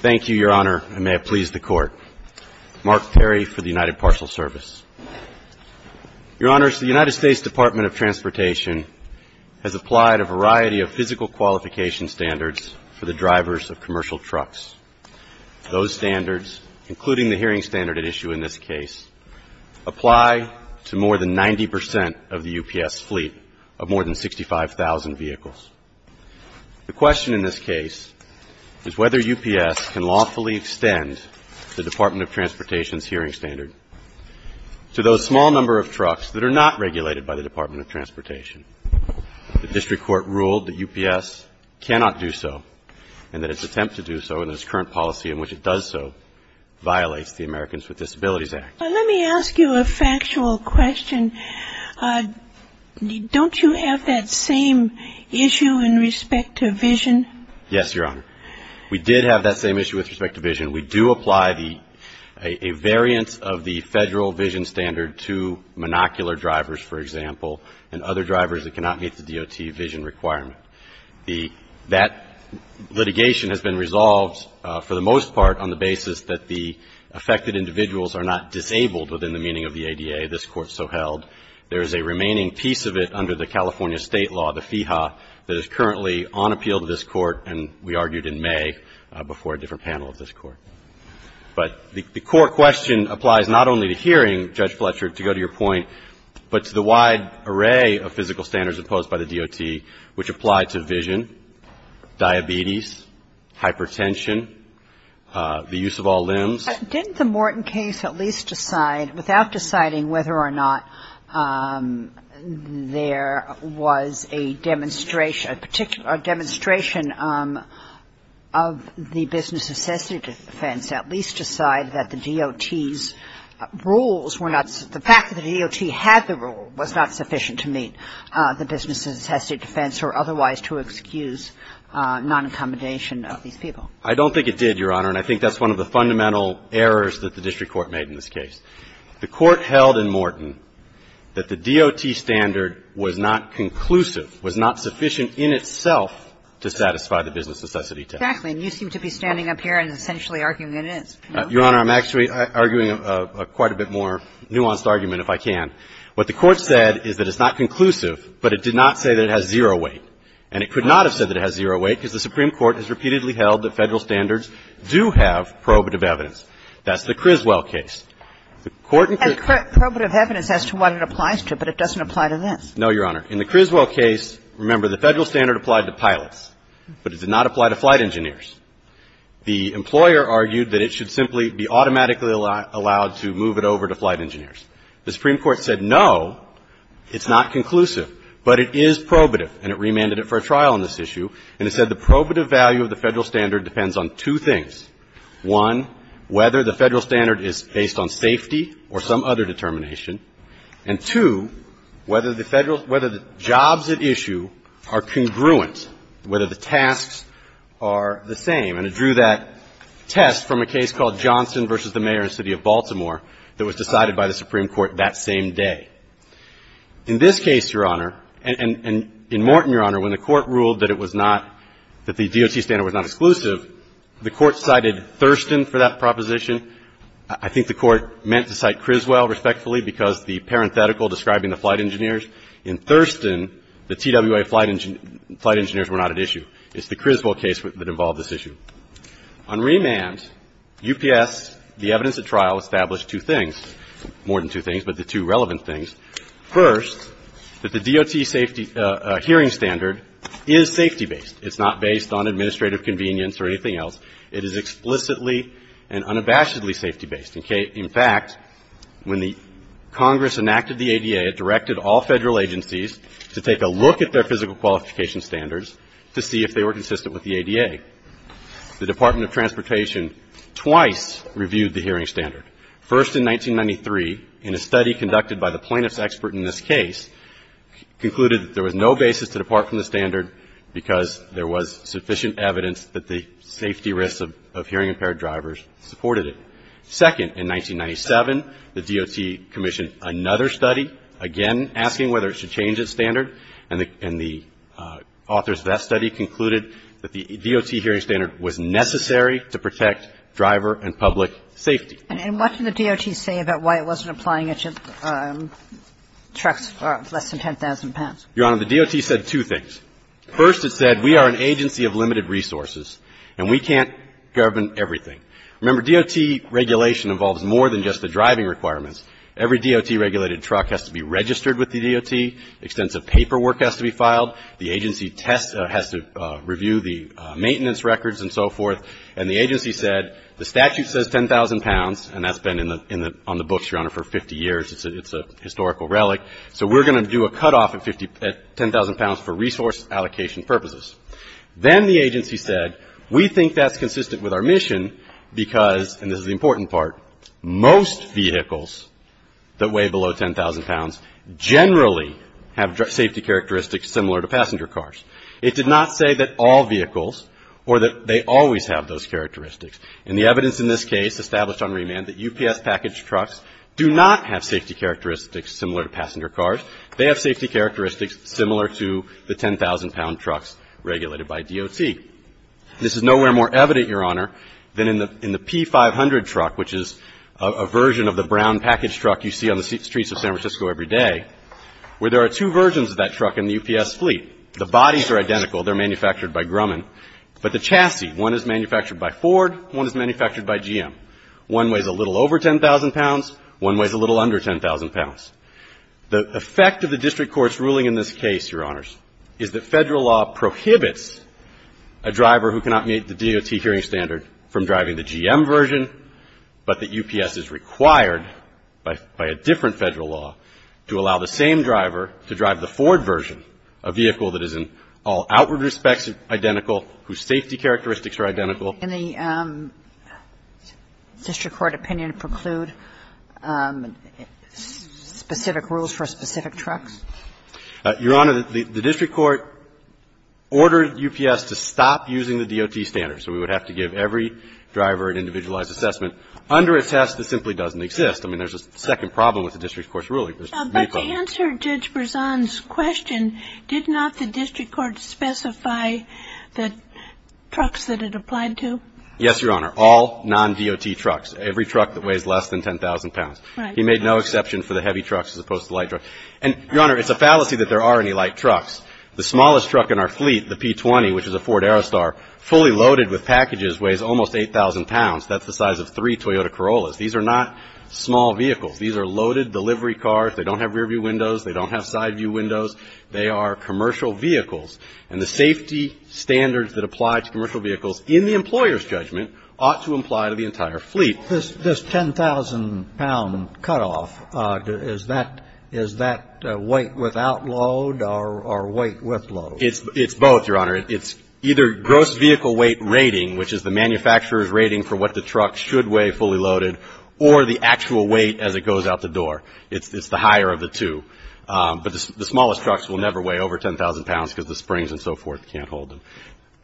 Thank you, Your Honor, and may it please the Court. Mark Terry for the United Parcel Service. Your Honors, the United States Department of Transportation has applied a variety of physical qualification standards for the drivers of commercial trucks. Those standards, including the hearing standard at issue in this case, apply to more than 90 percent of the UPS fleet of more than 65,000 vehicles. The question in this case is whether UPS can lawfully extend the Department of Transportation's hearing standard to those small number of trucks that are not regulated by the Department of Transportation. The district court ruled that UPS cannot do so and that its attempt to do so and its current policy in which it does so violates the Americans with Disabilities Act. Let me ask you a factual question. Don't you have that same issue in respect to vision? Yes, Your Honor. We did have that same issue with respect to vision. We do apply a variance of the federal vision standard to monocular drivers, for example, and other drivers that cannot meet the DOT vision requirement. That litigation has been resolved for the most part on the basis that the affected individuals are not disabled within the meaning of the ADA, this Court so held. There is a remaining piece of it under the California State law, the FEHA, that is currently on appeal to this Court, and we argued in May before a different panel of this Court. But the core question applies not only to hearing, Judge Fletcher, to go to your point, but to the wide array of physical standards imposed by the DOT, which apply to vision, diabetes, hypertension, the use of all limbs. Didn't the Morton case at least decide, without deciding whether or not there was a demonstration, a demonstration of the business necessity defense, at least decide that the DOT's rules were not the fact that the DOT had the rule was not sufficient to meet the business necessity defense or otherwise to excuse non-accommodation of these people? I don't think it did, Your Honor, and I think that's one of the fundamental errors that the district court made in this case. The Court held in Morton that the DOT standard was not conclusive, was not sufficient in itself to satisfy the business necessity test. Exactly. And you seem to be standing up here and essentially arguing it is. Your Honor, I'm actually arguing a quite a bit more nuanced argument, if I can. What the Court said is that it's not conclusive, but it did not say that it has zero weight, and it could not have said that it has zero weight because the Supreme Court has repeatedly held that Federal standards do have probative evidence. That's the Criswell case. The Court in Criswell. And probative evidence as to what it applies to, but it doesn't apply to this. No, Your Honor. In the Criswell case, remember, the Federal standard applied to pilots, but it did not apply to flight engineers. The employer argued that it should simply be automatically allowed to move it over to flight engineers. The Supreme Court said, no, it's not conclusive, but it is probative, and it remanded it for a trial on this issue. And it said the probative value of the Federal standard depends on two things. One, whether the Federal standard is based on safety or some other determination. And two, whether the jobs at issue are congruent, whether the tasks are the same. And it drew that test from a case called Johnson v. The Mayor and City of Baltimore that was decided by the Supreme Court that same day. In this case, Your Honor, and in Morton, Your Honor, when the Court ruled that it was not, that the DOT standard was not exclusive, the Court cited Thurston for that proposition. I think the Court meant to cite Criswell respectfully because the parenthetical describing the flight engineers. In Thurston, the TWA flight engineers were not at issue. It's the Criswell case that involved this issue. On remand, UPS, the evidence at trial, established two things, more than two things, but the two relevant things. First, that the DOT safety hearing standard is safety-based. It's not based on administrative convenience or anything else. It is explicitly and unabashedly safety-based. In fact, when the Congress enacted the ADA, it directed all Federal agencies to take a look at their physical qualification standards to see if they were consistent with the ADA. The Department of Transportation twice reviewed the hearing standard. First, in 1993, in a study conducted by the plaintiff's expert in this case, concluded that there was no basis to depart from the standard because there was sufficient evidence that the safety risks of hearing-impaired drivers supported it. Second, in 1997, the DOT commissioned another study, again asking whether it should change its standard. And the authors of that study concluded that the DOT hearing standard was necessary to protect driver and public safety. And what did the DOT say about why it wasn't applying it to trucks less than 10,000 pounds? Your Honor, the DOT said two things. First, it said we are an agency of limited resources and we can't govern everything. Remember, DOT regulation involves more than just the driving requirements. Every DOT-regulated truck has to be registered with the DOT. Extensive paperwork has to be filed. The agency has to review the maintenance records and so forth. And the agency said the statute says 10,000 pounds, and that's been on the books, Your Honor, for 50 years. It's a historical relic. So we're going to do a cutoff at 10,000 pounds for resource allocation purposes. Then the agency said we think that's consistent with our mission because, and this is the important part, most vehicles that weigh below 10,000 pounds generally have safety characteristics similar to passenger cars. It did not say that all vehicles or that they always have those characteristics. And the evidence in this case established on remand that UPS packaged trucks do not have safety characteristics similar to passenger cars. They have safety characteristics similar to the 10,000 pound trucks regulated by DOT. This is nowhere more evident, Your Honor, than in the P500 truck, which is a version of the brown package truck you see on the streets of San Francisco every day, where there are two versions of that truck in the UPS fleet. The bodies are identical. They're manufactured by Grumman. But the chassis, one is manufactured by Ford, one is manufactured by GM. One weighs a little over 10,000 pounds. One weighs a little under 10,000 pounds. The effect of the district court's ruling in this case, Your Honors, is that Federal law prohibits a driver who cannot meet the DOT hearing standard from driving the GM version, but that UPS is required by a different Federal law to allow the same driver to drive the Ford version, a vehicle that is in all outward respects identical, whose safety characteristics are identical. Kagan in the district court opinion preclude specific rules for specific trucks? Your Honor, the district court ordered UPS to stop using the DOT standards. So we would have to give every driver an individualized assessment under a test that simply doesn't exist. I mean, there's a second problem with the district court's ruling. There's three problems. To answer Judge Berzon's question, did not the district court specify the trucks that it applied to? Yes, Your Honor. All non-DOT trucks. Every truck that weighs less than 10,000 pounds. He made no exception for the heavy trucks as opposed to the light trucks. And, Your Honor, it's a fallacy that there are any light trucks. The smallest truck in our fleet, the P-20, which is a Ford Aerostar, fully loaded with packages, weighs almost 8,000 pounds. That's the size of three Toyota Corollas. These are not small vehicles. These are loaded delivery cars. They don't have rear-view windows. They don't have side-view windows. They are commercial vehicles. And the safety standards that apply to commercial vehicles in the employer's judgment ought to apply to the entire fleet. This 10,000-pound cutoff, is that weight without load or weight with load? It's both, Your Honor. It's either gross vehicle weight rating, which is the manufacturer's rating for what the truck should weigh fully loaded, or the actual weight as it goes out the door. It's the higher of the two. But the smallest trucks will never weigh over 10,000 pounds because the springs and so forth can't hold them.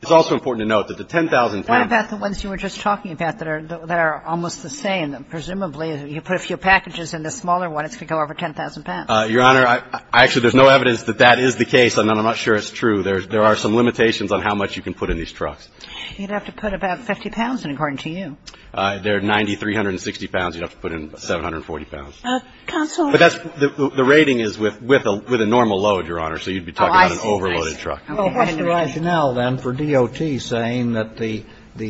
It's also important to note that the 10,000 pounds — What about the ones you were just talking about that are almost the same? Presumably, you put a few packages in the smaller one, it's going to go over 10,000 pounds. Your Honor, actually, there's no evidence that that is the case, and I'm not sure it's true. There are some limitations on how much you can put in these trucks. You'd have to put about 50 pounds in, according to you. They're 90, 360 pounds. You'd have to put in 740 pounds. Counsel — But that's — the rating is with a normal load, Your Honor, so you'd be talking about an overloaded truck. Oh, I see. What's the rationale, then, for DOT saying that the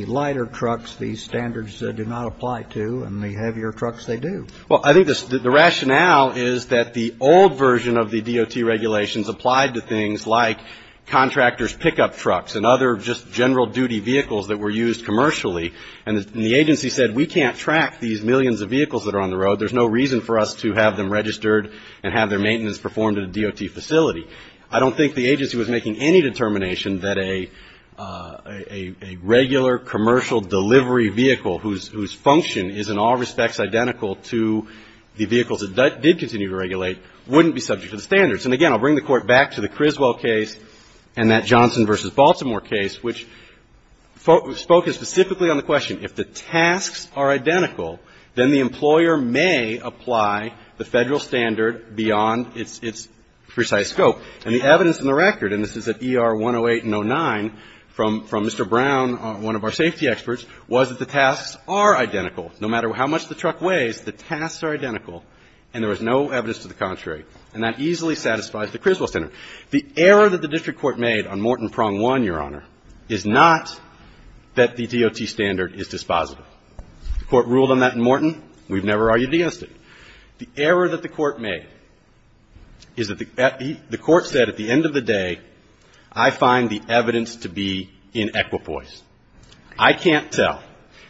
lighter trucks, these standards do not apply to, and the heavier trucks, they do? Well, I think the rationale is that the old version of the DOT regulations applied to things like contractors' pickup trucks and other just general-duty vehicles that were used commercially, and the agency said, we can't track these millions of vehicles that are on the road. There's no reason for us to have them registered and have their maintenance performed at a DOT facility. I don't think the agency was making any determination that a regular commercial delivery vehicle whose function is, in all respects, identical to the vehicles that did continue to regulate wouldn't be subject to the standards. And again, I'll bring the Court back to the Criswell case and that Johnson v. Baltimore case, which focused specifically on the question. If the tasks are identical, then the employer may apply the Federal standard beyond its precise scope. And the evidence in the record, and this is at ER 108 and 09 from Mr. Brown, one of our safety experts, was that the tasks are identical. No matter how much the truck weighs, the tasks are identical, and there was no evidence to the contrary. And that easily satisfies the Criswell standard. The error that the district court made on Morton prong one, Your Honor, is not that the DOT standard is dispositive. The court ruled on that in Morton. We've never argued against it. The error that the court made is that the court said, at the end of the day, I find the evidence to be in equipoise. I can't tell.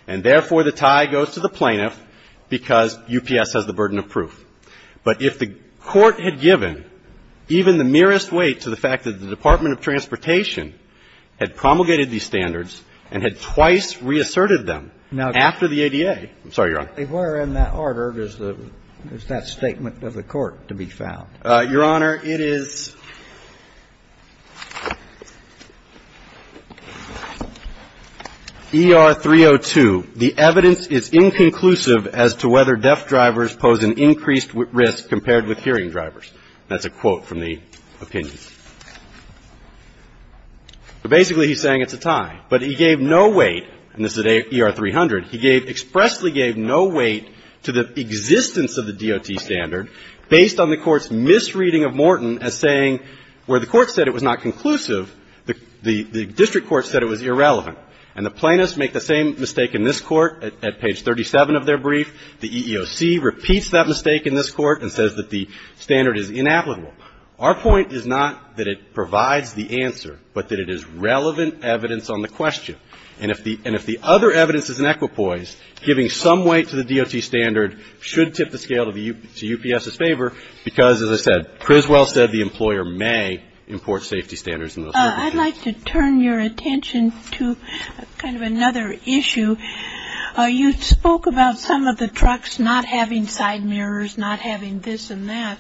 And therefore, the tie goes to the plaintiff because UPS has the burden of proof. But if the court had given even the merest weight to the fact that the Department of Transportation had promulgated these standards and had twice reasserted them after the ADA – I'm sorry, Your Honor. If we're in that order, is that statement of the court to be found? Your Honor, it is ER 302. The evidence is inconclusive as to whether deaf drivers pose an increased risk compared with hearing drivers. That's a quote from the opinion. So basically, he's saying it's a tie. But he gave no weight – and this is at ER 300 – he gave – expressly gave no weight to the existence of the DOT standard based on the court's misreading of Morton as saying where the court said it was not conclusive, the district court said it was irrelevant. And the plaintiffs make the same mistake in this court at page 37 of their brief. The EEOC repeats that mistake in this court and says that the standard is inapplicable. Our point is not that it provides the answer, but that it is relevant evidence on the question. And if the other evidence is in equipoise, giving some weight to the DOT standard should tip the scale to UPS's favor because, as I said, Criswell said the employer may import safety standards in those circumstances. I'd like to turn your attention to kind of another issue. You spoke about some of the trucks not having side mirrors, not having this and that.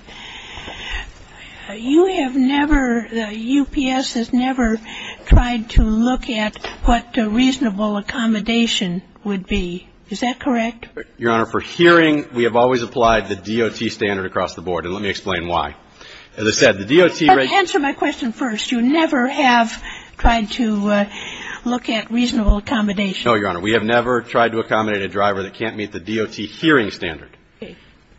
You have never – UPS has never tried to look at what a reasonable accommodation would be. Is that correct? Your Honor, for hearing, we have always applied the DOT standard across the board, and let me explain why. As I said, the DOT – Let me answer my question first. You never have tried to look at reasonable accommodation. No, Your Honor. We have never tried to accommodate a driver that can't meet the DOT hearing standard.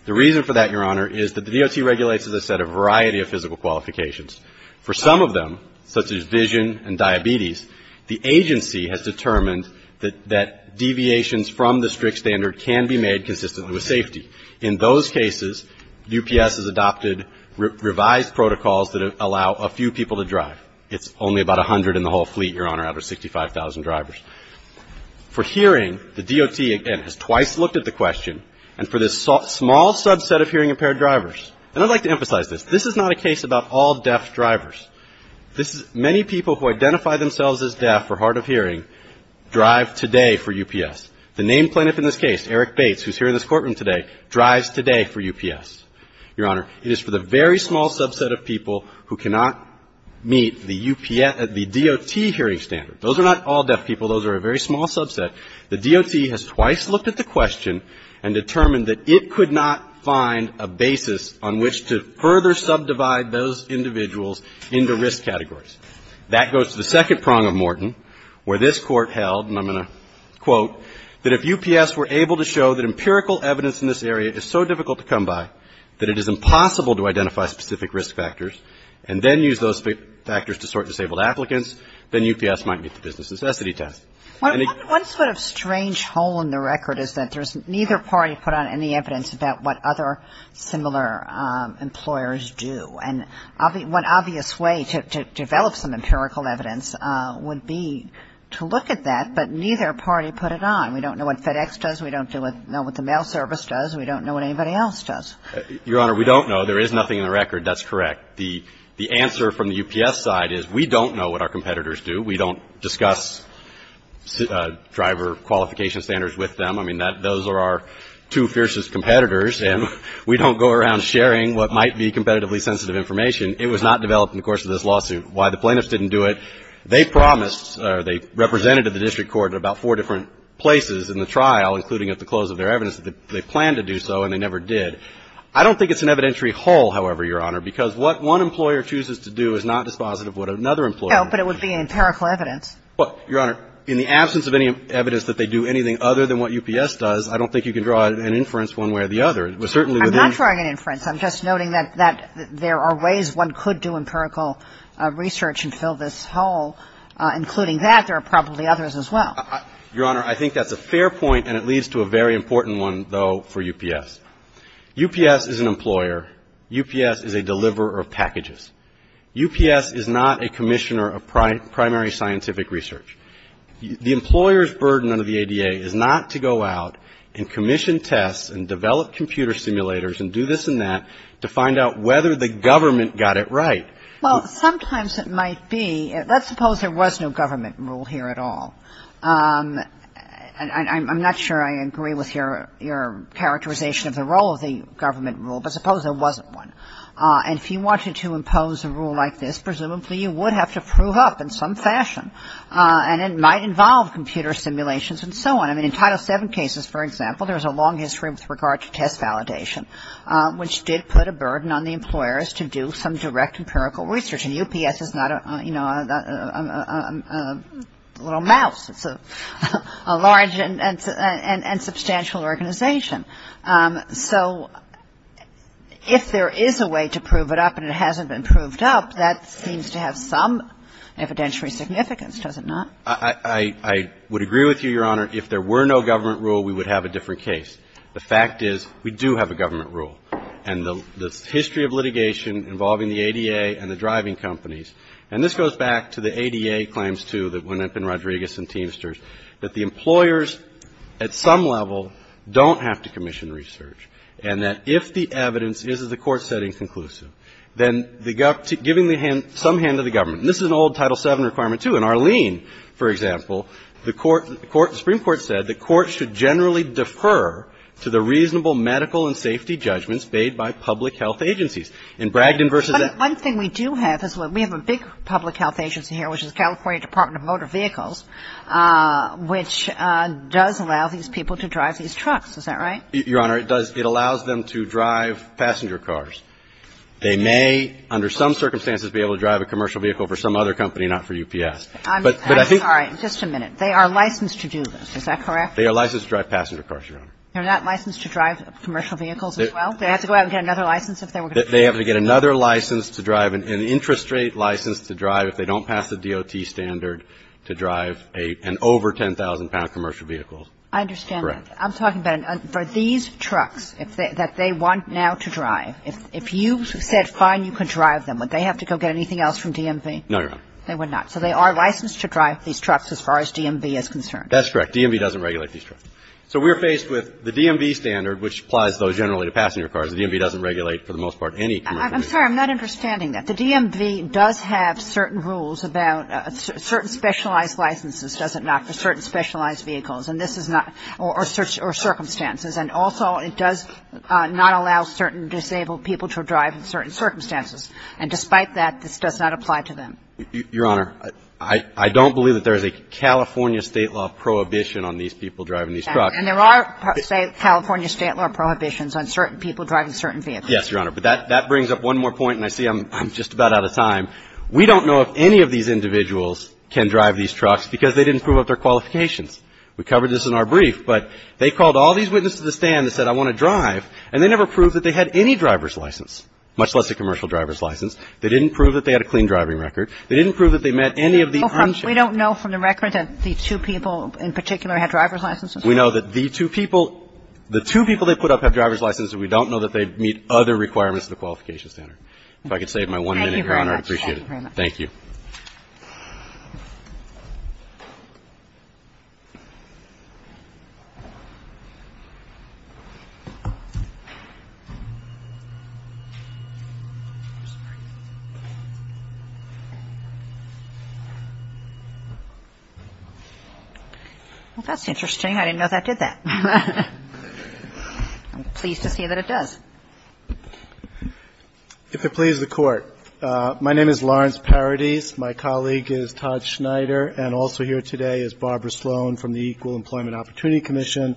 The reason for that, Your Honor, is that the DOT regulates, as I said, a variety of physical qualifications. For some of them, such as vision and diabetes, the agency has determined that deviations from the strict standard can be made consistent with safety. In those cases, UPS has adopted revised protocols that allow a few people to drive. It's only about 100 in the whole fleet, Your Honor, out of 65,000 drivers. For hearing, the DOT, again, has twice looked at the question, and for this small subset of hearing impaired drivers – and I'd like to emphasize this. This is not a case about all deaf drivers. This is – many people who identify themselves as deaf or hard of hearing drive today for UPS. The named plaintiff in this case, Eric Bates, who's here in this courtroom today, drives today for UPS. Your Honor, it is for the very small subset of people who cannot meet the DOT hearing standard. Those are not all deaf people. Those are a very small subset. The DOT has twice looked at the question and determined that it could not find a basis on which to further subdivide those individuals into risk categories. That goes to the second prong of Morton, where this Court held – and I'm going to quote – that if UPS were able to show that empirical evidence in this area is so difficult to come by that it is impossible to identify specific risk factors, and then use those factors to sort disabled applicants, then UPS might meet the business necessity test. And it – One sort of strange hole in the record is that there's neither party put on any evidence about what other similar employers do. And one obvious way to develop some empirical evidence would be to look at that, but neither party put it on. We don't know what FedEx does. We don't know what the mail service does. We don't know what anybody else does. Your Honor, we don't know. There is nothing in the record. That's correct. The answer from the UPS side is we don't know what our competitors do. We don't discuss driver qualification standards with them. I mean, those are our two fiercest competitors, and we don't go around sharing what might be competitively sensitive information. It was not developed in the course of this lawsuit. Why the plaintiffs didn't do it, they promised, or they represented at the district court at about four different places in the trial, including at the close of their evidence, that they planned to do so, and they never did. I don't think it's an evidentiary hole, however, Your Honor, because what one employer chooses to do is not dispositive of what another employer does. No, but it would be an empirical evidence. Well, Your Honor, in the absence of any evidence that they do anything other than what UPS does, I don't think you can draw an inference one way or the other. It was certainly within the rules of the statute. I'm not drawing an inference. I'm just noting that there are ways one could do empirical research and fill this hole. Including that, there are probably others as well. Your Honor, I think that's a fair point, and it leads to a very important one, though, for UPS. UPS is an employer. UPS is a deliverer of packages. UPS is not a commissioner of primary scientific research. The employer's burden under the ADA is not to go out and commission tests and develop computer simulators and do this and that to find out whether the government got it right. Well, sometimes it might be. Let's suppose there was no government rule here at all. I'm not sure I agree with your characterization of the role of the government rule, but suppose there wasn't one. And if you wanted to impose a rule like this, presumably you would have to prove up in some fashion, and it might involve computer simulations and so on. I mean, in Title VII cases, for example, there's a long history with regard to test validation, which did put a burden on the employers to do some direct empirical research. And UPS is not, you know, a little mouse. It's a large and substantial organization. So if there is a way to prove it up and it hasn't been proved up, that seems to have some evidentiary significance, does it not? I would agree with you, Your Honor. If there were no government rule, we would have a different case. The fact is we do have a government rule. And the history of litigation involving the ADA and the driving companies, and this goes back to the ADA claims, too, that went up in Rodriguez and Teamsters, that the employers at some level don't have to commission research, and that if the evidence is, as the Court said, inconclusive, then giving some hand to the government requirement, too. In Arlene, for example, the Court, the Supreme Court said the Court should generally defer to the reasonable medical and safety judgments bade by public health agencies. In Bragdon v. Ed. One thing we do have is we have a big public health agency here, which is California Department of Motor Vehicles, which does allow these people to drive these trucks. Is that right? Your Honor, it does. It allows them to drive passenger cars. They may, under some circumstances, be able to drive a commercial vehicle for some other company, not for UPS. I'm sorry. Just a minute. They are licensed to do this. Is that correct? They are licensed to drive passenger cars, Your Honor. They're not licensed to drive commercial vehicles as well? Do they have to go out and get another license if they were going to drive? They have to get another license to drive, an interest rate license to drive if they don't pass the DOT standard to drive an over 10,000-pound commercial vehicle. I understand that. Correct. I'm talking about for these trucks that they want now to drive, if you said, fine, you can drive them, would they have to go get anything else from DMV? No, Your Honor. They would not. So they are licensed to drive these trucks as far as DMV is concerned. That's correct. DMV doesn't regulate these trucks. So we're faced with the DMV standard, which applies, though, generally to passenger cars. The DMV doesn't regulate, for the most part, any commercial vehicle. I'm sorry. I'm not understanding that. The DMV does have certain rules about certain specialized licenses, does it not, for certain specialized vehicles. And this is not or circumstances. And also, it does not allow certain disabled people to drive in certain circumstances. And despite that, this does not apply to them. Your Honor, I don't believe that there is a California State law prohibition on these people driving these trucks. And there are, say, California State law prohibitions on certain people driving certain vehicles. Yes, Your Honor. But that brings up one more point, and I see I'm just about out of time. We don't know if any of these individuals can drive these trucks because they didn't prove up their qualifications. We covered this in our brief. But they called all these witnesses to the stand that said, I want to drive, and they never proved that they had any driver's license, much less a commercial driver's license. They didn't prove that they had a clean driving record. They didn't prove that they met any of the unchecked. We don't know from the record that the two people in particular have driver's licenses? We know that the two people they put up have driver's licenses. We don't know that they meet other requirements of the qualification standard. If I could save my one minute, Your Honor, I'd appreciate it. Thank you very much. Thank you. Well, that's interesting. I didn't know that did that. I'm pleased to see that it does. If it pleases the Court, my name is Lawrence Parody. My colleague is Todd Schneider. And also here today is Barbara Sloan from the Equal Employment Opportunity Commission,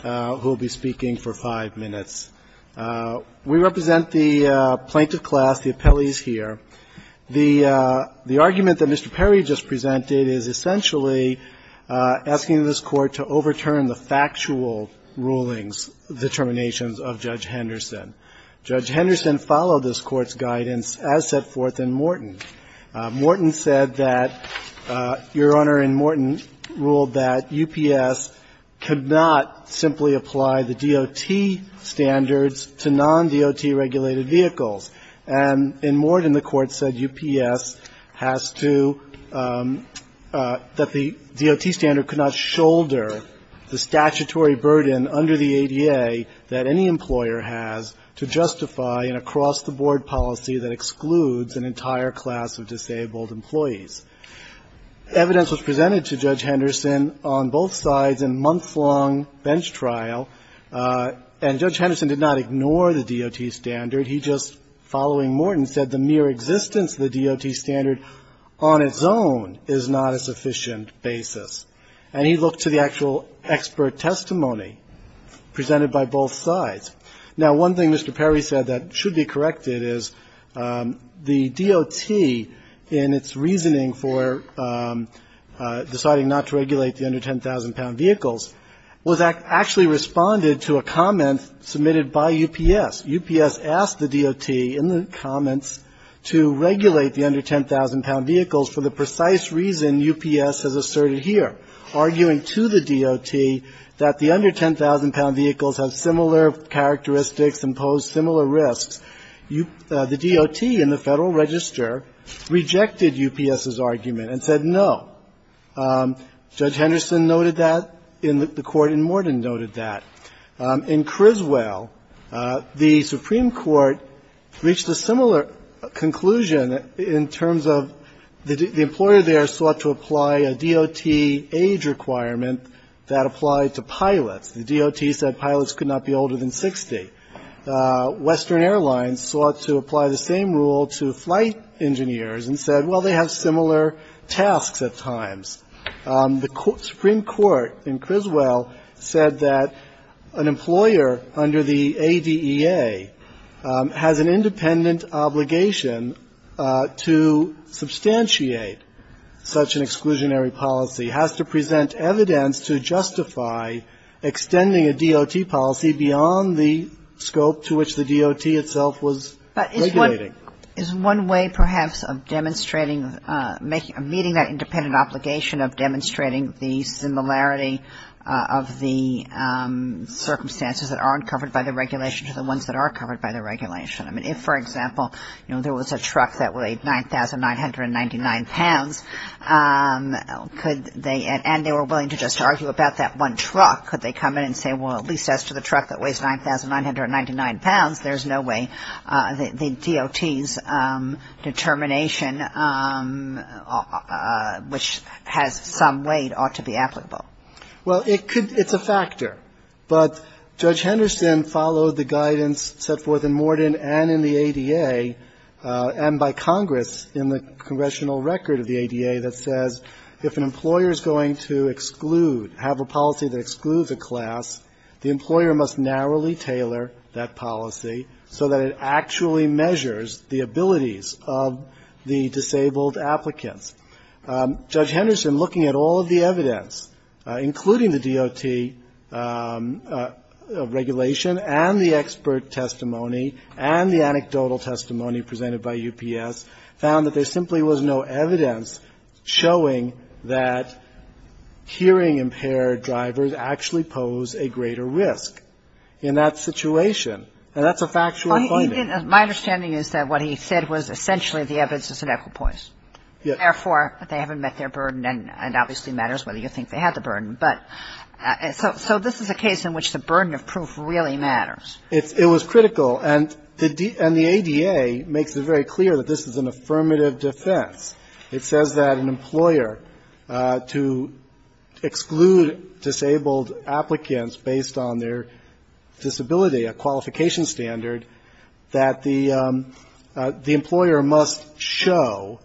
who will be speaking for five minutes. We represent the plaintiff class, the appellees here. The argument that Mr. Perry just presented is essentially asking this Court to overturn the factual rulings, determinations of Judge Henderson. Judge Henderson followed this Court's guidance as set forth in Morton. Morton said that Your Honor, in Morton, ruled that UPS could not simply apply the DOT standards to non-DOT regulated vehicles. And in Morton, the Court said UPS has to – that the DOT standard could not shoulder the statutory burden under the ADA that any employer has to justify an across-the-board policy that excludes an entire class of disabled employees. Evidence was presented to Judge Henderson on both sides in a month-long bench trial. And Judge Henderson did not ignore the DOT standard. He just, following Morton, said the mere existence of the DOT standard on its own is not a sufficient basis. And he looked to the actual expert testimony presented by both sides. Now, one thing Mr. Perry said that should be corrected is the DOT, in its reasoning for deciding not to regulate the under-10,000-pound vehicles, was actually responded to a comment submitted by UPS. UPS asked the DOT in the comments to regulate the under-10,000-pound vehicles for the precise reason UPS has asserted here, arguing to the DOT that the under-10,000-pound vehicles have similar characteristics and pose similar risks. The DOT in the Federal Register rejected UPS's argument and said no. Judge Henderson noted that in the Court, and Morton noted that. In Criswell, the Supreme Court reached a similar conclusion in terms of the employer there sought to apply a DOT age requirement that applied to pilots. The DOT said pilots could not be older than 60. Western Airlines sought to apply the same rule to flight engineers and said, well, they have similar tasks at times. The Supreme Court in Criswell said that an employer under the ADEA has an independent obligation to substantiate such an exclusionary policy, has to present evidence to justify extending a DOT policy beyond the scope to which the DOT itself was regulating. But is one way, perhaps, of demonstrating, meeting that independent obligation of demonstrating the similarity of the circumstances that aren't covered by the regulation to the ones that are covered by the regulation? I mean, if, for example, you know, there was a truck that weighed 9,999 pounds, could they, and they were willing to just argue about that one truck, could they come in and say, well, at least as to the truck that weighs 9,999 pounds, there's no way the DOT's determination, which has some weight, ought to be applicable? Well, it could. It's a factor. But Judge Henderson followed the guidance set forth in Morton and in the ADA and by Congress in the congressional record of the ADA that says if an employer is going to exclude, have a policy that excludes a class, the employer must narrowly tailor that policy so that it actually measures the abilities of the disabled applicants. Judge Henderson, looking at all of the evidence, including the DOT regulation and the expert testimony and the anecdotal testimony presented by UPS, found that there simply was no evidence showing that hearing-impaired drivers actually pose a greater risk in that situation. And that's a factual finding. My understanding is that what he said was essentially the evidence is an equipoise. Therefore, they haven't met their burden, and it obviously matters whether you think they had the burden. But so this is a case in which the burden of proof really matters. It was critical. And the ADA makes it very clear that this is an affirmative defense. It says that an employer, to exclude disabled applicants based on their disability, a qualification standard, that the employer must show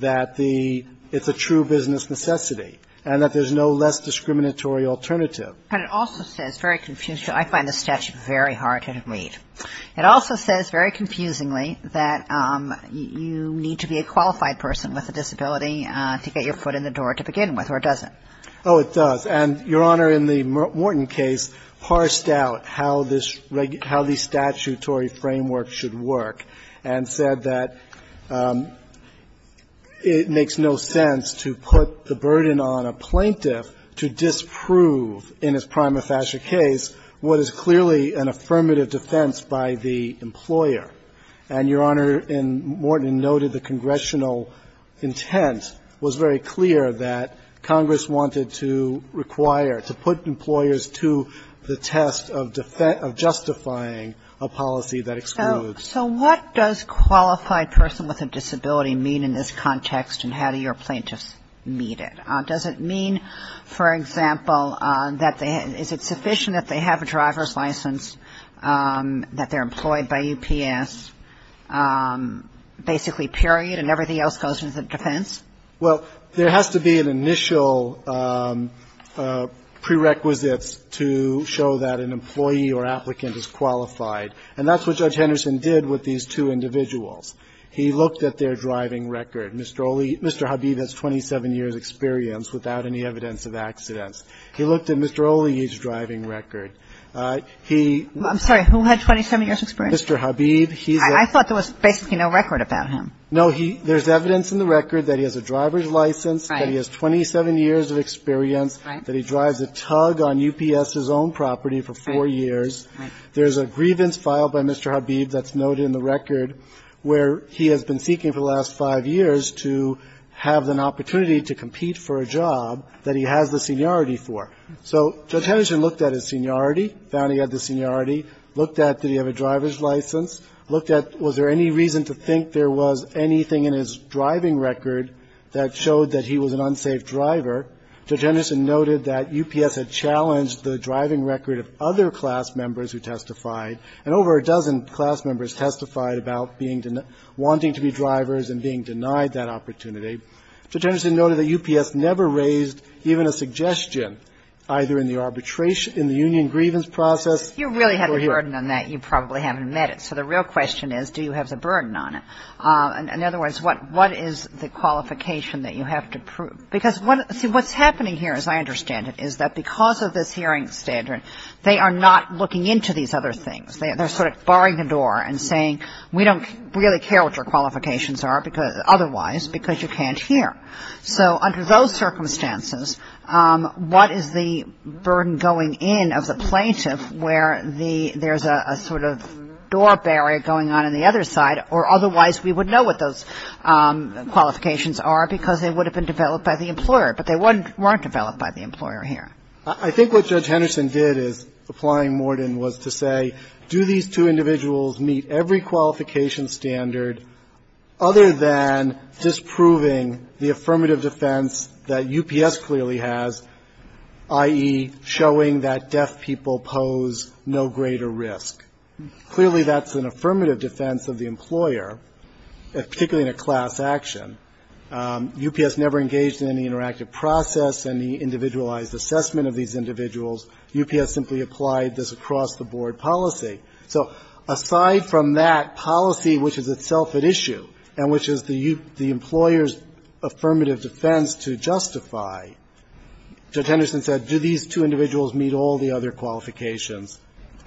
that the – it's a true business necessity and that there's no less discriminatory alternative. But it also says very confusingly – I find this statute very hard to read. It also says very confusingly that you need to be a qualified person with a disability to get your foot in the door to begin with, or it doesn't. Oh, it does. And Your Honor, in the Morton case, parsed out how this – how the statutory framework should work and said that it makes no sense to put the burden on a plaintiff to disprove in his prima facie case what is clearly an affirmative defense by the employer. And Your Honor, in Morton, noted the congressional intent was very clear that Congress wanted to require, to put employers to the test of justifying a policy that excludes. So what does qualified person with a disability mean in this context, and how do your plaintiffs meet it? Does it mean, for example, that they – is it sufficient that they have a driver's license, that they're employed by UPS, basically, period, and everything else goes into defense? Well, there has to be an initial prerequisites to show that an employee or applicant is qualified, and that's what Judge Henderson did with these two individuals. He looked at their driving record. Mr. O'Leary – Mr. Habib has 27 years' experience without any evidence of accidents. He looked at Mr. O'Leary's driving record. He – I'm sorry. Who had 27 years' experience? Mr. Habib. He's a – I thought there was basically no record about him. No, he – there's evidence in the record that he has a driver's license, that he has 27 years' experience, that he drives a tug on UPS's own property for four years. Right. There's a grievance filed by Mr. Habib that's noted in the record where he has been seeking for the last five years to have an opportunity to compete for a job that he has the seniority for. So Judge Henderson looked at his seniority, found he had the seniority, looked at did there was anything in his driving record that showed that he was an unsafe driver. Judge Henderson noted that UPS had challenged the driving record of other class members who testified, and over a dozen class members testified about being – wanting to be drivers and being denied that opportunity. Judge Henderson noted that UPS never raised even a suggestion, either in the arbitration – in the union grievance process – If you really have a burden on that, you probably haven't met it. So the real question is, do you have the burden on it? In other words, what is the qualification that you have to prove? Because what – see, what's happening here, as I understand it, is that because of this hearing standard, they are not looking into these other things. They're sort of barring the door and saying, we don't really care what your qualifications are because – otherwise, because you can't hear. So under those circumstances, what is the burden going in of the plaintiff where the – there's a sort of door barrier going on in the other side, or otherwise we would know what those qualifications are because they would have been developed by the employer. But they weren't developed by the employer here. I think what Judge Henderson did in applying Morden was to say, do these two individuals meet every qualification standard other than disproving the affirmative defense that UPS clearly has, i.e., showing that deaf people pose no greater risk. Clearly, that's an affirmative defense of the employer, particularly in a class action. UPS never engaged in any interactive process, any individualized assessment of these individuals. UPS simply applied this across-the-board policy. So aside from that policy, which is itself at issue, and which is the employer's ability to justify, Judge Henderson said, do these two individuals meet all the other qualifications?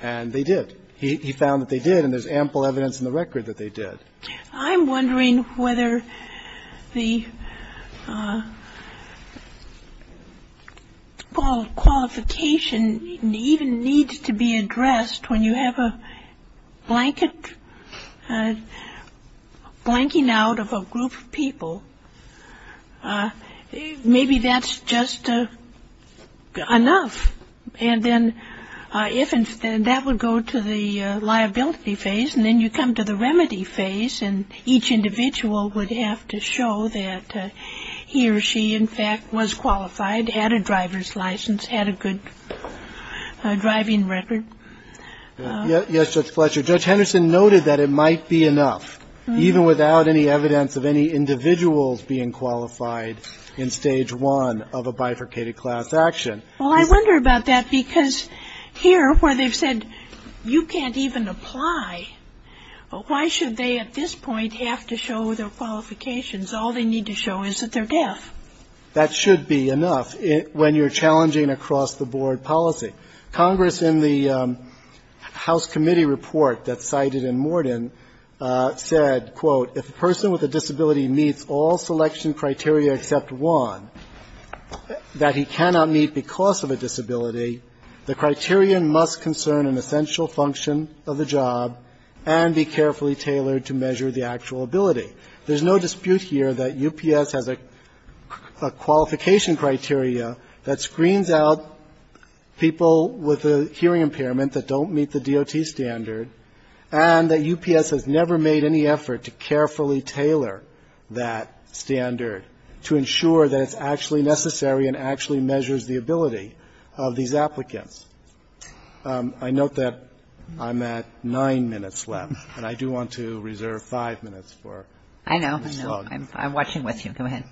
And they did. He found that they did, and there's ample evidence in the record that they did. I'm wondering whether the qualification even needs to be addressed when you have a blanket blanking out of a group of people. Maybe that's just enough. And then if that would go to the liability phase, and then you come to the remedy phase, and each individual would have to show that he or she, in fact, was qualified, had a driver's license, had a good driving record. Yes, Judge Fletcher. Judge Henderson noted that it might be enough, even without any evidence of any individuals being qualified in Stage 1 of a bifurcated class action. Well, I wonder about that, because here, where they've said you can't even apply, why should they at this point have to show their qualifications? All they need to show is that they're deaf. That should be enough when you're challenging across-the-board policy. Congress, in the House committee report that's cited in Morden, said, quote, if a person with a disability meets all selection criteria except one that he cannot meet because of a disability, the criterion must concern an essential function of the job and be carefully tailored to measure the actual ability. There's no dispute here that UPS has a qualification criteria that screens out people with a hearing impairment that don't meet the DOT standard, and that UPS has never made any effort to carefully tailor that standard to ensure that it's actually necessary and actually measures the ability of these applicants. I note that I'm at nine minutes left, and I do want to reserve five minutes for Ms. Hogg. I know. I'm watching with you. Go ahead.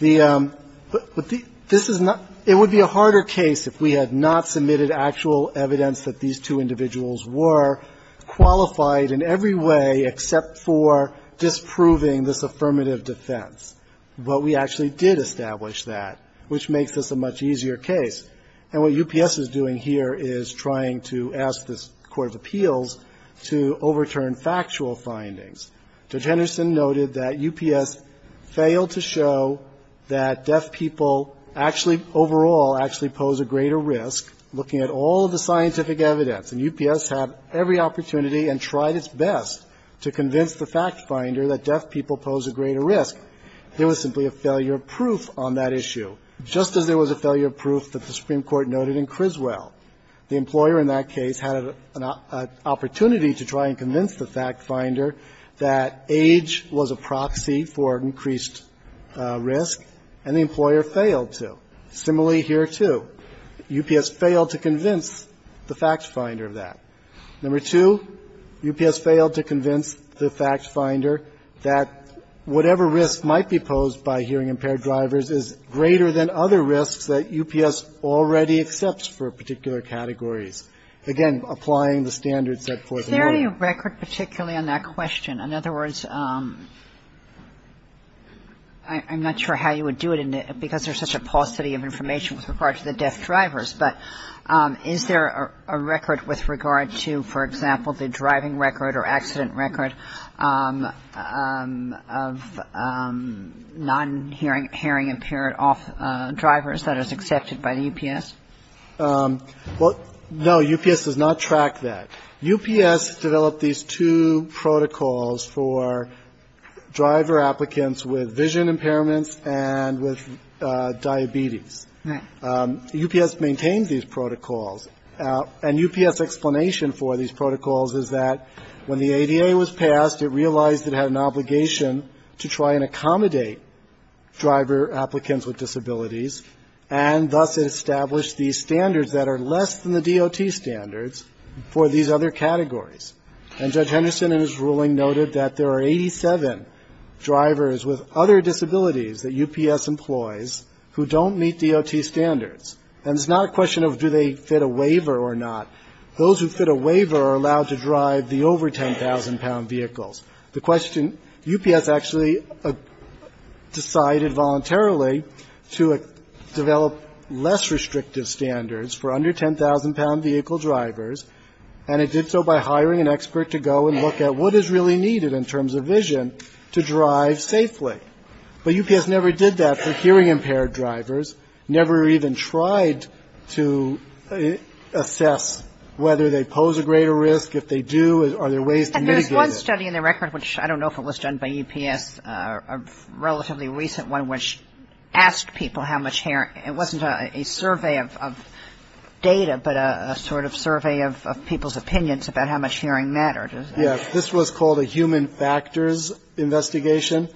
Okay. This is not – it would be a harder case if we had not submitted actual evidence that these two individuals were qualified in every way except for disproving this affirmative defense. But we actually did establish that, which makes this a much easier case. And what UPS is doing here is trying to ask this court of appeals to overturn factual findings. Judge Henderson noted that UPS failed to show that deaf people actually overall actually pose a greater risk, looking at all of the scientific evidence. And UPS had every opportunity and tried its best to convince the fact finder that deaf people pose a greater risk. There was simply a failure of proof on that issue, just as there was a failure of proof that the Supreme Court noted in Criswell. The employer in that case had an opportunity to try and convince the fact finder that age was a proxy for increased risk, and the employer failed to. Similarly here, too. UPS failed to convince the fact finder of that. Number two, UPS failed to convince the fact finder that whatever risk might be posed by hearing-impaired drivers is greater than other risks that UPS already accepts for particular categories. Again, applying the standards set forth in the law. Is there any record particularly on that question? In other words, I'm not sure how you would do it because there's such a paucity of information with regard to the deaf drivers, but is there a record with regard to, for example, the driving record or accident record of non-hearing-impaired drivers that is accepted by the UPS? Well, no. UPS does not track that. UPS developed these two protocols for driver applicants with vision impairments and with diabetes. Right. UPS maintained these protocols, and UPS's explanation for these protocols is that when the ADA was passed, it realized it had an obligation to try and accommodate driver applicants with disabilities, and thus it established these standards that are less than the DOT standards for these other categories. And Judge Henderson in his ruling noted that there are 87 drivers with other disabilities that UPS employs who don't meet DOT standards. And it's not a question of do they fit a waiver or not. Those who fit a waiver are allowed to drive the over 10,000-pound vehicles. The question UPS actually decided voluntarily to develop less restrictive standards for under 10,000-pound vehicle drivers, and it did so by hiring an expert to go and look at what is really needed in terms of vision to drive safely. But UPS never did that for hearing-impaired drivers, never even tried to assess whether they pose a greater risk. If they do, are there ways to mitigate it? And was there a study in the record, which I don't know if it was done by UPS, a relatively recent one, which asked people how much hearing ‑‑ it wasn't a survey of data, but a sort of survey of people's opinions about how much hearing mattered? Yes. This was called a human factors investigation.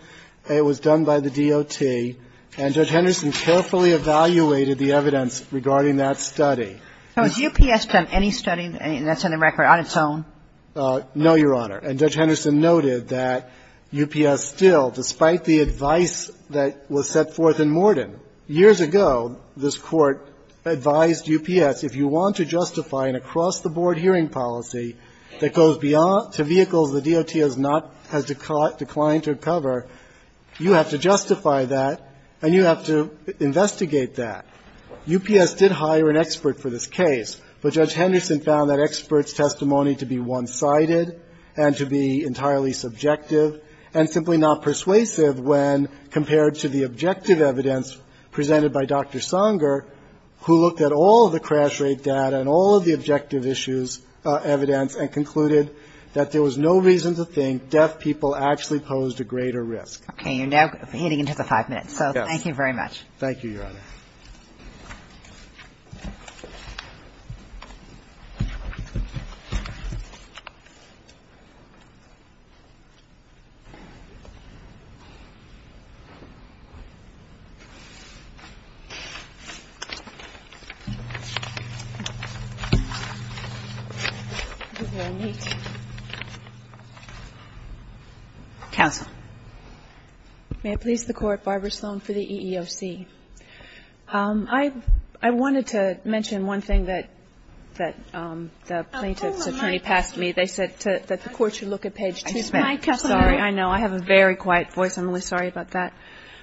It was done by the DOT. And Judge Henderson carefully evaluated the evidence regarding that study. So has UPS done any study that's in the record on its own? No, Your Honor. And Judge Henderson noted that UPS still, despite the advice that was set forth in Morden, years ago this Court advised UPS, if you want to justify an across-the-board hearing policy that goes beyond ‑‑ to vehicles the DOT has not ‑‑ has declined to cover, you have to justify that and you have to investigate that. UPS did hire an expert for this case. But Judge Henderson found that expert's testimony to be one‑sided and to be entirely subjective and simply not persuasive when compared to the objective evidence presented by Dr. Sanger, who looked at all of the crash rate data and all of the objective issues ‑‑ evidence and concluded that there was no reason to think deaf people actually posed a greater risk. Okay. You're now getting into the five minutes. Yes. So thank you very much. Thank you, Your Honor. This is very neat. Counsel. May it please the Court. Barbara Sloan for the EEOC. I wanted to mention one thing that the plaintiff's attorney passed to me. They said that the Court should look at page 2. Sorry. I know. I have a very quiet voice. I'm really sorry about that.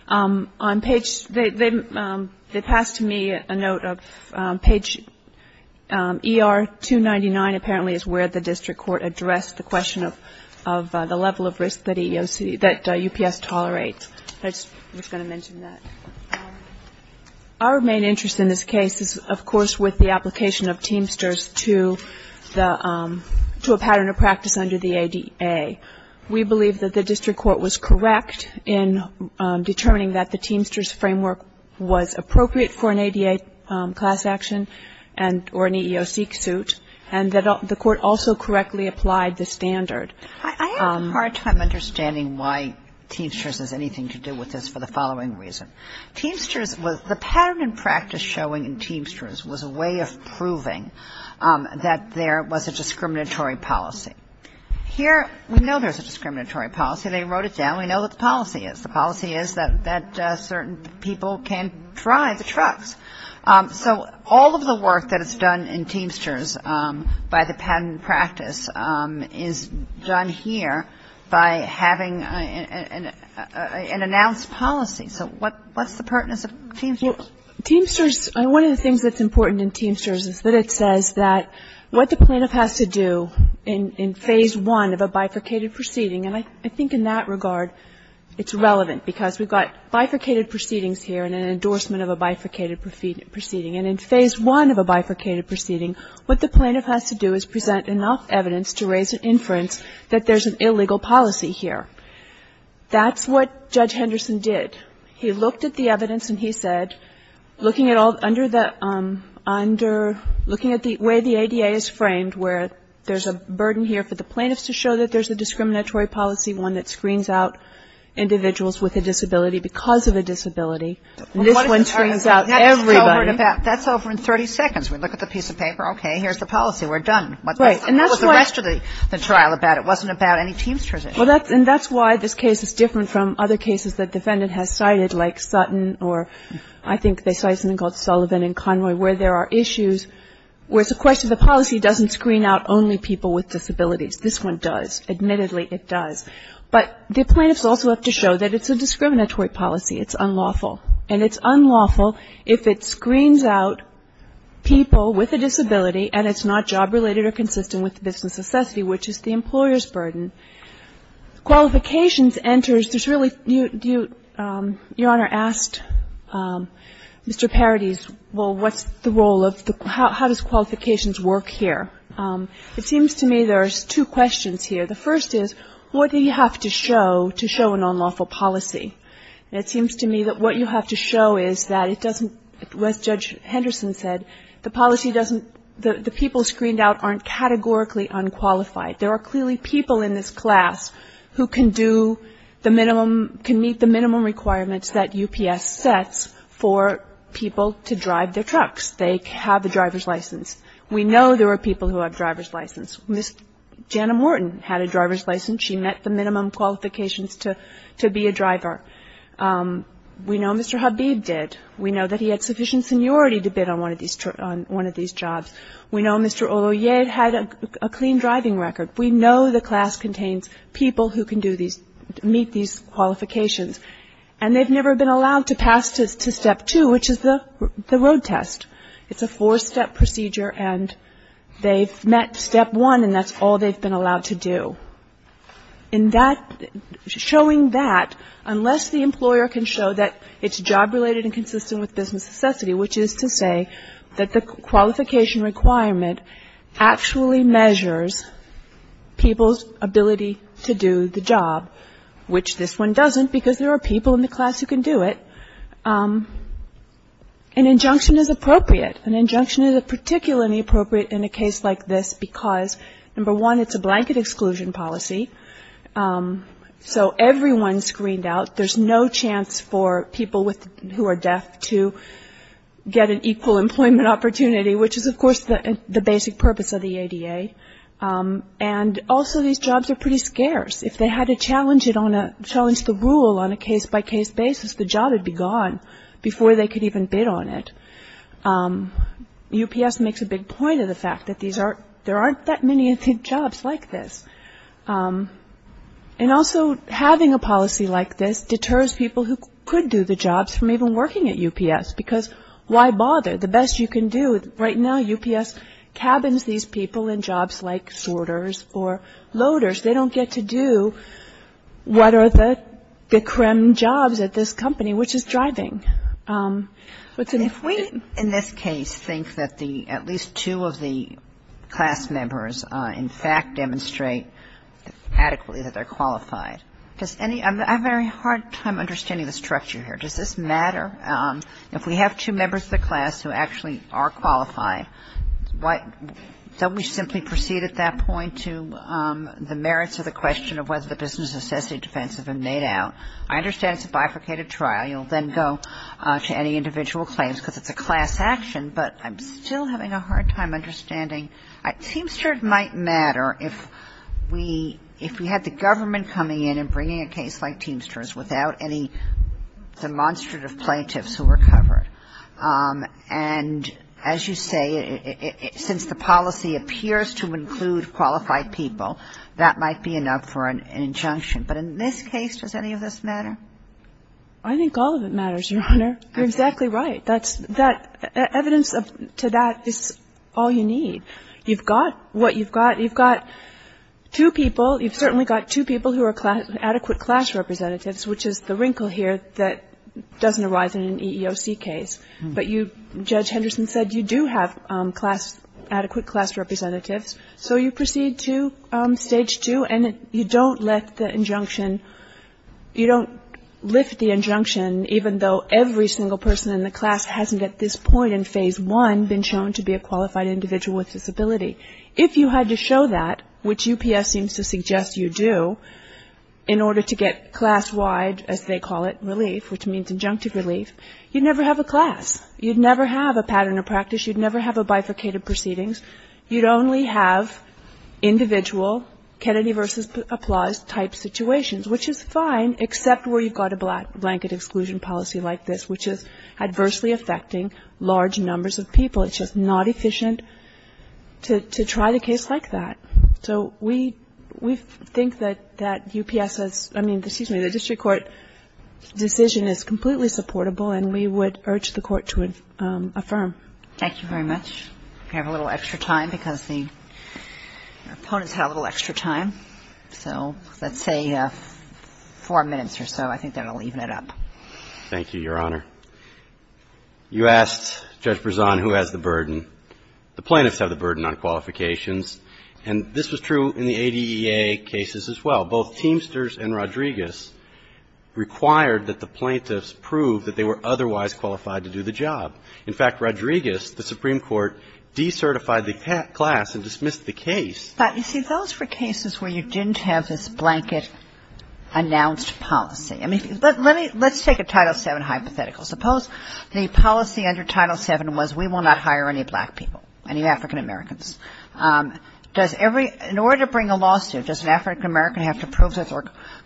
On page ‑‑ they passed to me a note of page ER299 apparently is where the district court addressed the question of the level of risk that EEOC ‑‑ that UPS tolerates. I was going to mention that. Our main interest in this case is, of course, with the application of Teamsters to a pattern of practice under the ADA. We believe that the district court was correct in determining that the Teamsters framework was appropriate for an ADA class action or an EEOC suit and that the school correctly applied the standard. I have a hard time understanding why Teamsters has anything to do with this for the following reason. Teamsters was ‑‑ the pattern and practice showing in Teamsters was a way of proving that there was a discriminatory policy. Here we know there's a discriminatory policy. They wrote it down. We know what the policy is. The policy is that certain people can drive the trucks. So all of the work that is done in Teamsters by the pattern and practice is done here by having an announced policy. So what's the pertinence of Teamsters? Well, Teamsters, one of the things that's important in Teamsters is that it says that what the plaintiff has to do in phase one of a bifurcated proceeding, and I think in that regard it's relevant because we've got bifurcated proceedings here and an endorsement of a bifurcated proceeding. And in phase one of a bifurcated proceeding, what the plaintiff has to do is present enough evidence to raise an inference that there's an illegal policy here. That's what Judge Henderson did. He looked at the evidence and he said, looking at the way the ADA is framed, where there's a burden here for the plaintiffs to show that there's a discriminatory policy, one that screens out individuals with a disability because of a disability. This one screens out everybody. That's over in 30 seconds. We look at the piece of paper. Okay, here's the policy. We're done. What was the rest of the trial about? It wasn't about any Teamsters. And that's why this case is different from other cases that the defendant has cited, like Sutton or I think they cited something called Sullivan and Conroy, where there are issues where it's a question of the policy doesn't screen out only people with disabilities. This one does. Admittedly, it does. But the plaintiffs also have to show that it's a discriminatory policy. It's unlawful. And it's unlawful if it screens out people with a disability and it's not job-related or consistent with business necessity, which is the employer's burden. Qualifications enters. There's really do you, Your Honor, asked Mr. Paradis, well, what's the role of the, how does qualifications work here? It seems to me there's two questions here. The first is what do you have to show to show an unlawful policy? And it seems to me that what you have to show is that it doesn't, as Judge Henderson said, the policy doesn't, the people screened out aren't categorically unqualified. There are clearly people in this class who can do the minimum, can meet the minimum requirements that UPS sets for people to drive their trucks. They have the driver's license. We know there are people who have driver's license. Ms. Jana Morton had a driver's license. She met the minimum qualifications to be a driver. We know Mr. Habib did. We know that he had sufficient seniority to bid on one of these jobs. We know Mr. Oloyed had a clean driving record. We know the class contains people who can do these, meet these qualifications. And they've never been allowed to pass to step two, which is the road test. It's a four-step procedure, and they've met step one, and that's all they've been allowed to do. And that, showing that, unless the employer can show that it's job-related and consistent with business necessity, which is to say that the qualification requirement actually measures people's ability to do the job, which this one doesn't because there are people in the class who can do it. An injunction is appropriate. An injunction is particularly appropriate in a case like this because, number one, it's a blanket exclusion policy, so everyone's screened out. There's no chance for people who are deaf to get an equal employment opportunity, which is, of course, the basic purpose of the ADA. And also, these jobs are pretty scarce. If they had to challenge the rule on a case-by-case basis, the job would be gone before they could even bid on it. UPS makes a big point of the fact that there aren't that many jobs like this. And also, having a policy like this deters people who could do the jobs from even working at UPS because why bother? The best you can do right now, UPS cabins these people in jobs like sorters or loaders. They don't get to do what are the creme jobs at this company, which is driving. But if we, in this case, think that the at least two of the class members, in fact, demonstrate adequately that they're qualified, does any of the ‑‑ I'm having a very hard time understanding the structure here. Does this matter? If we have two members of the class who actually are qualified, don't we simply proceed at that point to the merits of the question of whether the business necessity defense has been made out? I understand it's a bifurcated trial. You'll then go to any individual claims because it's a class action, but I'm still having a hard time understanding. Teamsters might matter if we had the government coming in and bringing a case like Teamsters without any demonstrative plaintiffs who were covered. And as you say, since the policy appears to include qualified people, that might be enough for an injunction. But in this case, does any of this matter? I think all of it matters, Your Honor. You're exactly right. That's ‑‑ evidence to that is all you need. You've got what you've got. You've got two people. You've certainly got two people who are adequate class representatives, which is the wrinkle here that doesn't arise in an EEOC case. But Judge Henderson said you do have adequate class representatives, so you proceed to Stage 2 and you don't lift the injunction, even though every single person in the class hasn't at this point in Phase 1 been shown to be a qualified individual with disability. If you had to show that, which UPS seems to suggest you do, in order to get class-wide, as they call it, relief, which means injunctive relief, you'd never have a class. You'd never have a pattern of practice. You'd never have a bifurcated proceedings. You'd only have individual Kennedy versus Applause type situations, which is fine except where you've got a blanket exclusion policy like this, which is adversely affecting large numbers of people. It's just not efficient to try the case like that. So we think that UPS's, I mean, excuse me, the district court decision is completely supportable, and we would urge the Court to affirm. Thank you very much. We have a little extra time because the opponents had a little extra time. So let's say four minutes or so. I think that will even it up. Thank you, Your Honor. You asked Judge Berzon who has the burden. The plaintiffs have the burden on qualifications, and this was true in the ADEA cases as well. Both Teamsters and Rodriguez required that the plaintiffs prove that they were otherwise qualified to do the job. In fact, Rodriguez, the Supreme Court, decertified the class and dismissed the case. But, you see, those were cases where you didn't have this blanket announced policy. I mean, let's take a Title VII hypothetical. Suppose the policy under Title VII was we will not hire any black people, any African-Americans. Does every ñ in order to bring a lawsuit, does an African-American have to prove that they're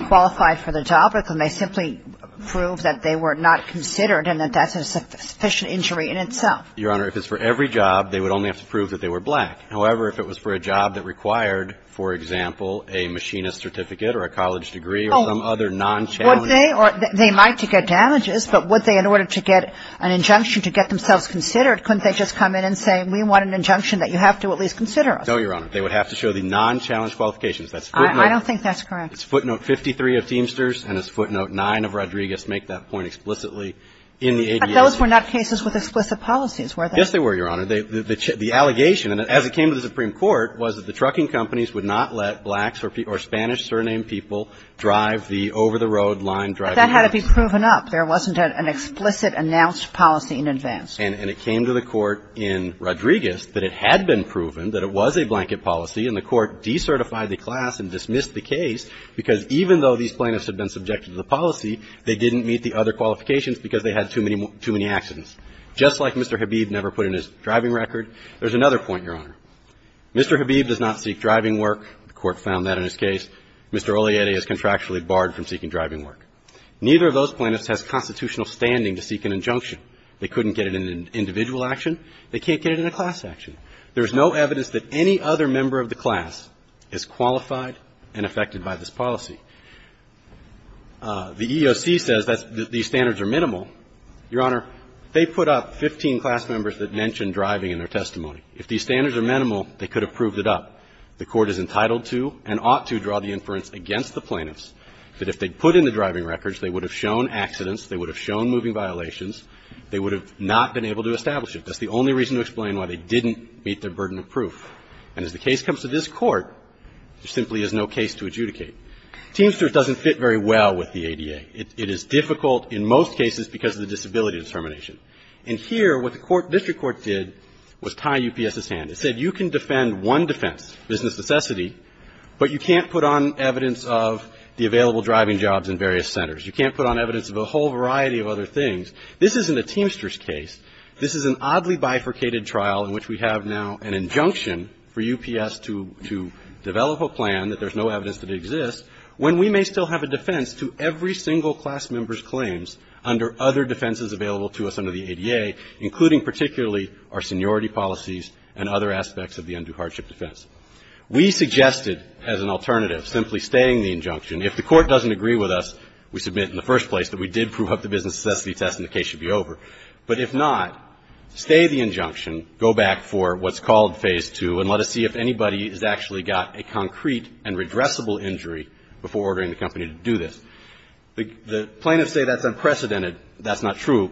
qualified for the job, or can they simply prove that they were not considered and that that's a sufficient injury in itself? Your Honor, if it's for every job, they would only have to prove that they were black. However, if it was for a job that required, for example, a machinist certificate or a college degree or some other non-challenging ñ Oh, would they? They might to get damages, but would they, in order to get an injunction to get themselves considered, couldn't they just come in and say we want an injunction that you have to at least consider us? No, Your Honor. They would have to show the non-challenged qualifications. That's footnote ñ I don't think that's correct. It's footnote 53 of Teamsters and it's footnote 9 of Rodriguez make that point explicitly in the ADEA. But those were not cases with explicit policies, were they? Yes, they were, Your Honor. The allegation, and as it came to the Supreme Court, was that the trucking companies would not let blacks or Spanish-surnamed people drive the over-the-road-line driving vehicles. But that had to be proven up. There wasn't an explicit announced policy in advance. And it came to the Court in Rodriguez that it had been proven that it was a blanket policy, and the Court decertified the class and dismissed the case because even though these plaintiffs had been subjected to the policy, they didn't meet the other qualifications because they had too many accidents. Just like Mr. Habib never put in his driving record, there's another point, Your Honor. Mr. Habib does not seek driving work. The Court found that in his case. Mr. Olliette is contractually barred from seeking driving work. Neither of those plaintiffs has constitutional standing to seek an injunction. They couldn't get it in an individual action. They can't get it in a class action. There's no evidence that any other member of the class is qualified and affected by this policy. The EEOC says that these standards are minimal. Your Honor, they put up 15 class members that mentioned driving in their testimony. If these standards are minimal, they could have proved it up. The Court is entitled to and ought to draw the inference against the plaintiffs that if they put in the driving records, they would have shown accidents, they would have shown moving violations, they would have not been able to establish it. That's the only reason to explain why they didn't meet their burden of proof. And as the case comes to this Court, there simply is no case to adjudicate. Teamsters doesn't fit very well with the ADA. It is difficult in most cases because of the disability determination. And here what the District Court did was tie UPS's hand. It said you can defend one defense, business necessity, but you can't put on evidence of the available driving jobs in various centers. You can't put on evidence of a whole variety of other things. This isn't a Teamsters case. This is an oddly bifurcated trial in which we have now an injunction for UPS to develop a plan that there's no evidence that it exists when we may still have a defense to every single class member's claims under other defenses available to us under the ADA, including particularly our seniority policies and other aspects of the undue hardship defense. We suggested as an alternative simply staying the injunction. If the Court doesn't agree with us, we submit in the first place that we did prove up the business necessity test and the case should be over. But if not, stay the injunction, go back for what's called Phase 2, and let us see if anybody has actually got a concrete and redressable injury before ordering the company to do this. The plaintiffs say that's unprecedented. That's not true.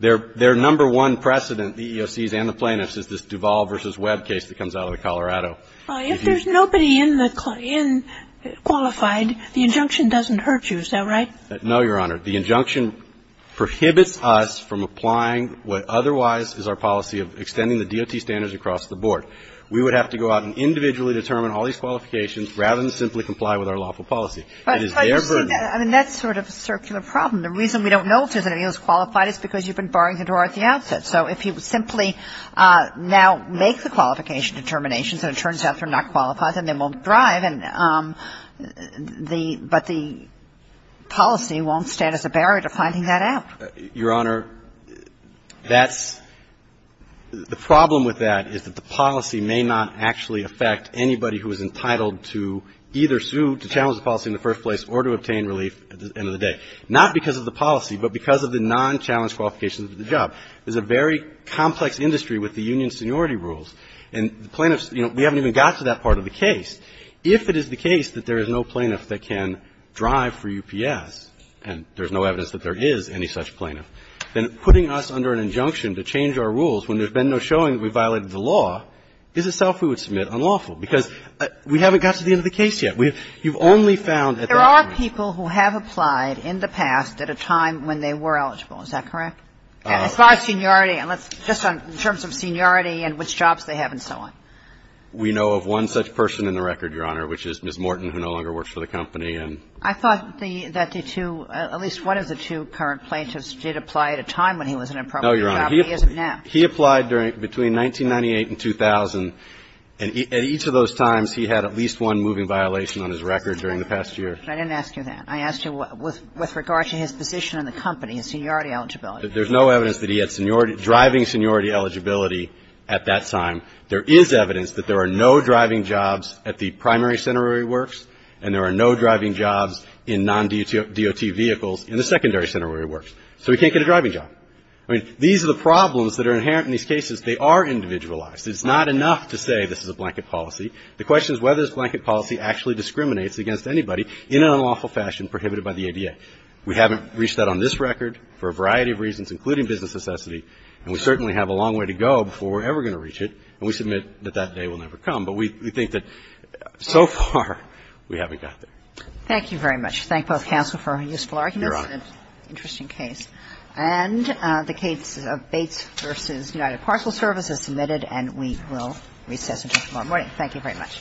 Their number one precedent, the EEOCs and the plaintiffs, is this Duvall v. Webb case that comes out of Colorado. If there's nobody in qualified, the injunction doesn't hurt you, is that right? No, Your Honor. The injunction prohibits us from applying what otherwise is our policy of extending the DOT standards across the board. We would have to go out and individually determine all these qualifications rather than simply comply with our lawful policy. It is their burden. I mean, that's sort of a circular problem. The reason we don't know if there's anybody who's qualified is because you've been barring the door at the outset. So if you simply now make the qualification determinations and it turns out they're not qualified, then they won't drive and the – but the policy won't stand as a barrier to finding that out. Your Honor, that's – the problem with that is that the policy may not actually affect anybody who is entitled to either sue, to challenge the policy in the first place, or to obtain relief at the end of the day. Not because of the policy, but because of the non-challenged qualifications of the job. There's a very complex industry with the union seniority rules. And the plaintiffs, you know, we haven't even got to that part of the case. If it is the case that there is no plaintiff that can drive for UPS, and there's no evidence that there is any such plaintiff, then putting us under an injunction to change our rules when there's been no showing that we violated the law is a self violation. And so we would submit unlawful, because we haven't got to the end of the case yet. We've – you've only found at that point. There are people who have applied in the past at a time when they were eligible. Is that correct? As far as seniority, and let's – just in terms of seniority and which jobs they have and so on. We know of one such person in the record, Your Honor, which is Ms. Morton, who no longer works for the company and – I thought that the two – at least one of the two current plaintiffs did apply at a time when he was in a property job. No, Your Honor. He isn't now. He applied during – between 1998 and 2000, and at each of those times, he had at least one moving violation on his record during the past year. But I didn't ask you that. I asked you what – with regard to his position in the company, his seniority eligibility. There's no evidence that he had seniority – driving seniority eligibility at that time. There is evidence that there are no driving jobs at the primary center where he works, and there are no driving jobs in non-DOT vehicles in the secondary center where he works. So he can't get a driving job. I mean, these are the problems that are inherent in these cases. They are individualized. It's not enough to say this is a blanket policy. The question is whether this blanket policy actually discriminates against anybody in an unlawful fashion prohibited by the ADA. We haven't reached that on this record for a variety of reasons, including business necessity, and we certainly have a long way to go before we're ever going to reach it, and we submit that that day will never come. But we think that so far, we haven't got there. Thank you very much. Thank both counsel for useful arguments. Your Honor. Interesting case. And the case of Bates v. United Parcel Service is submitted, and we will recess until tomorrow morning. Thank you very much.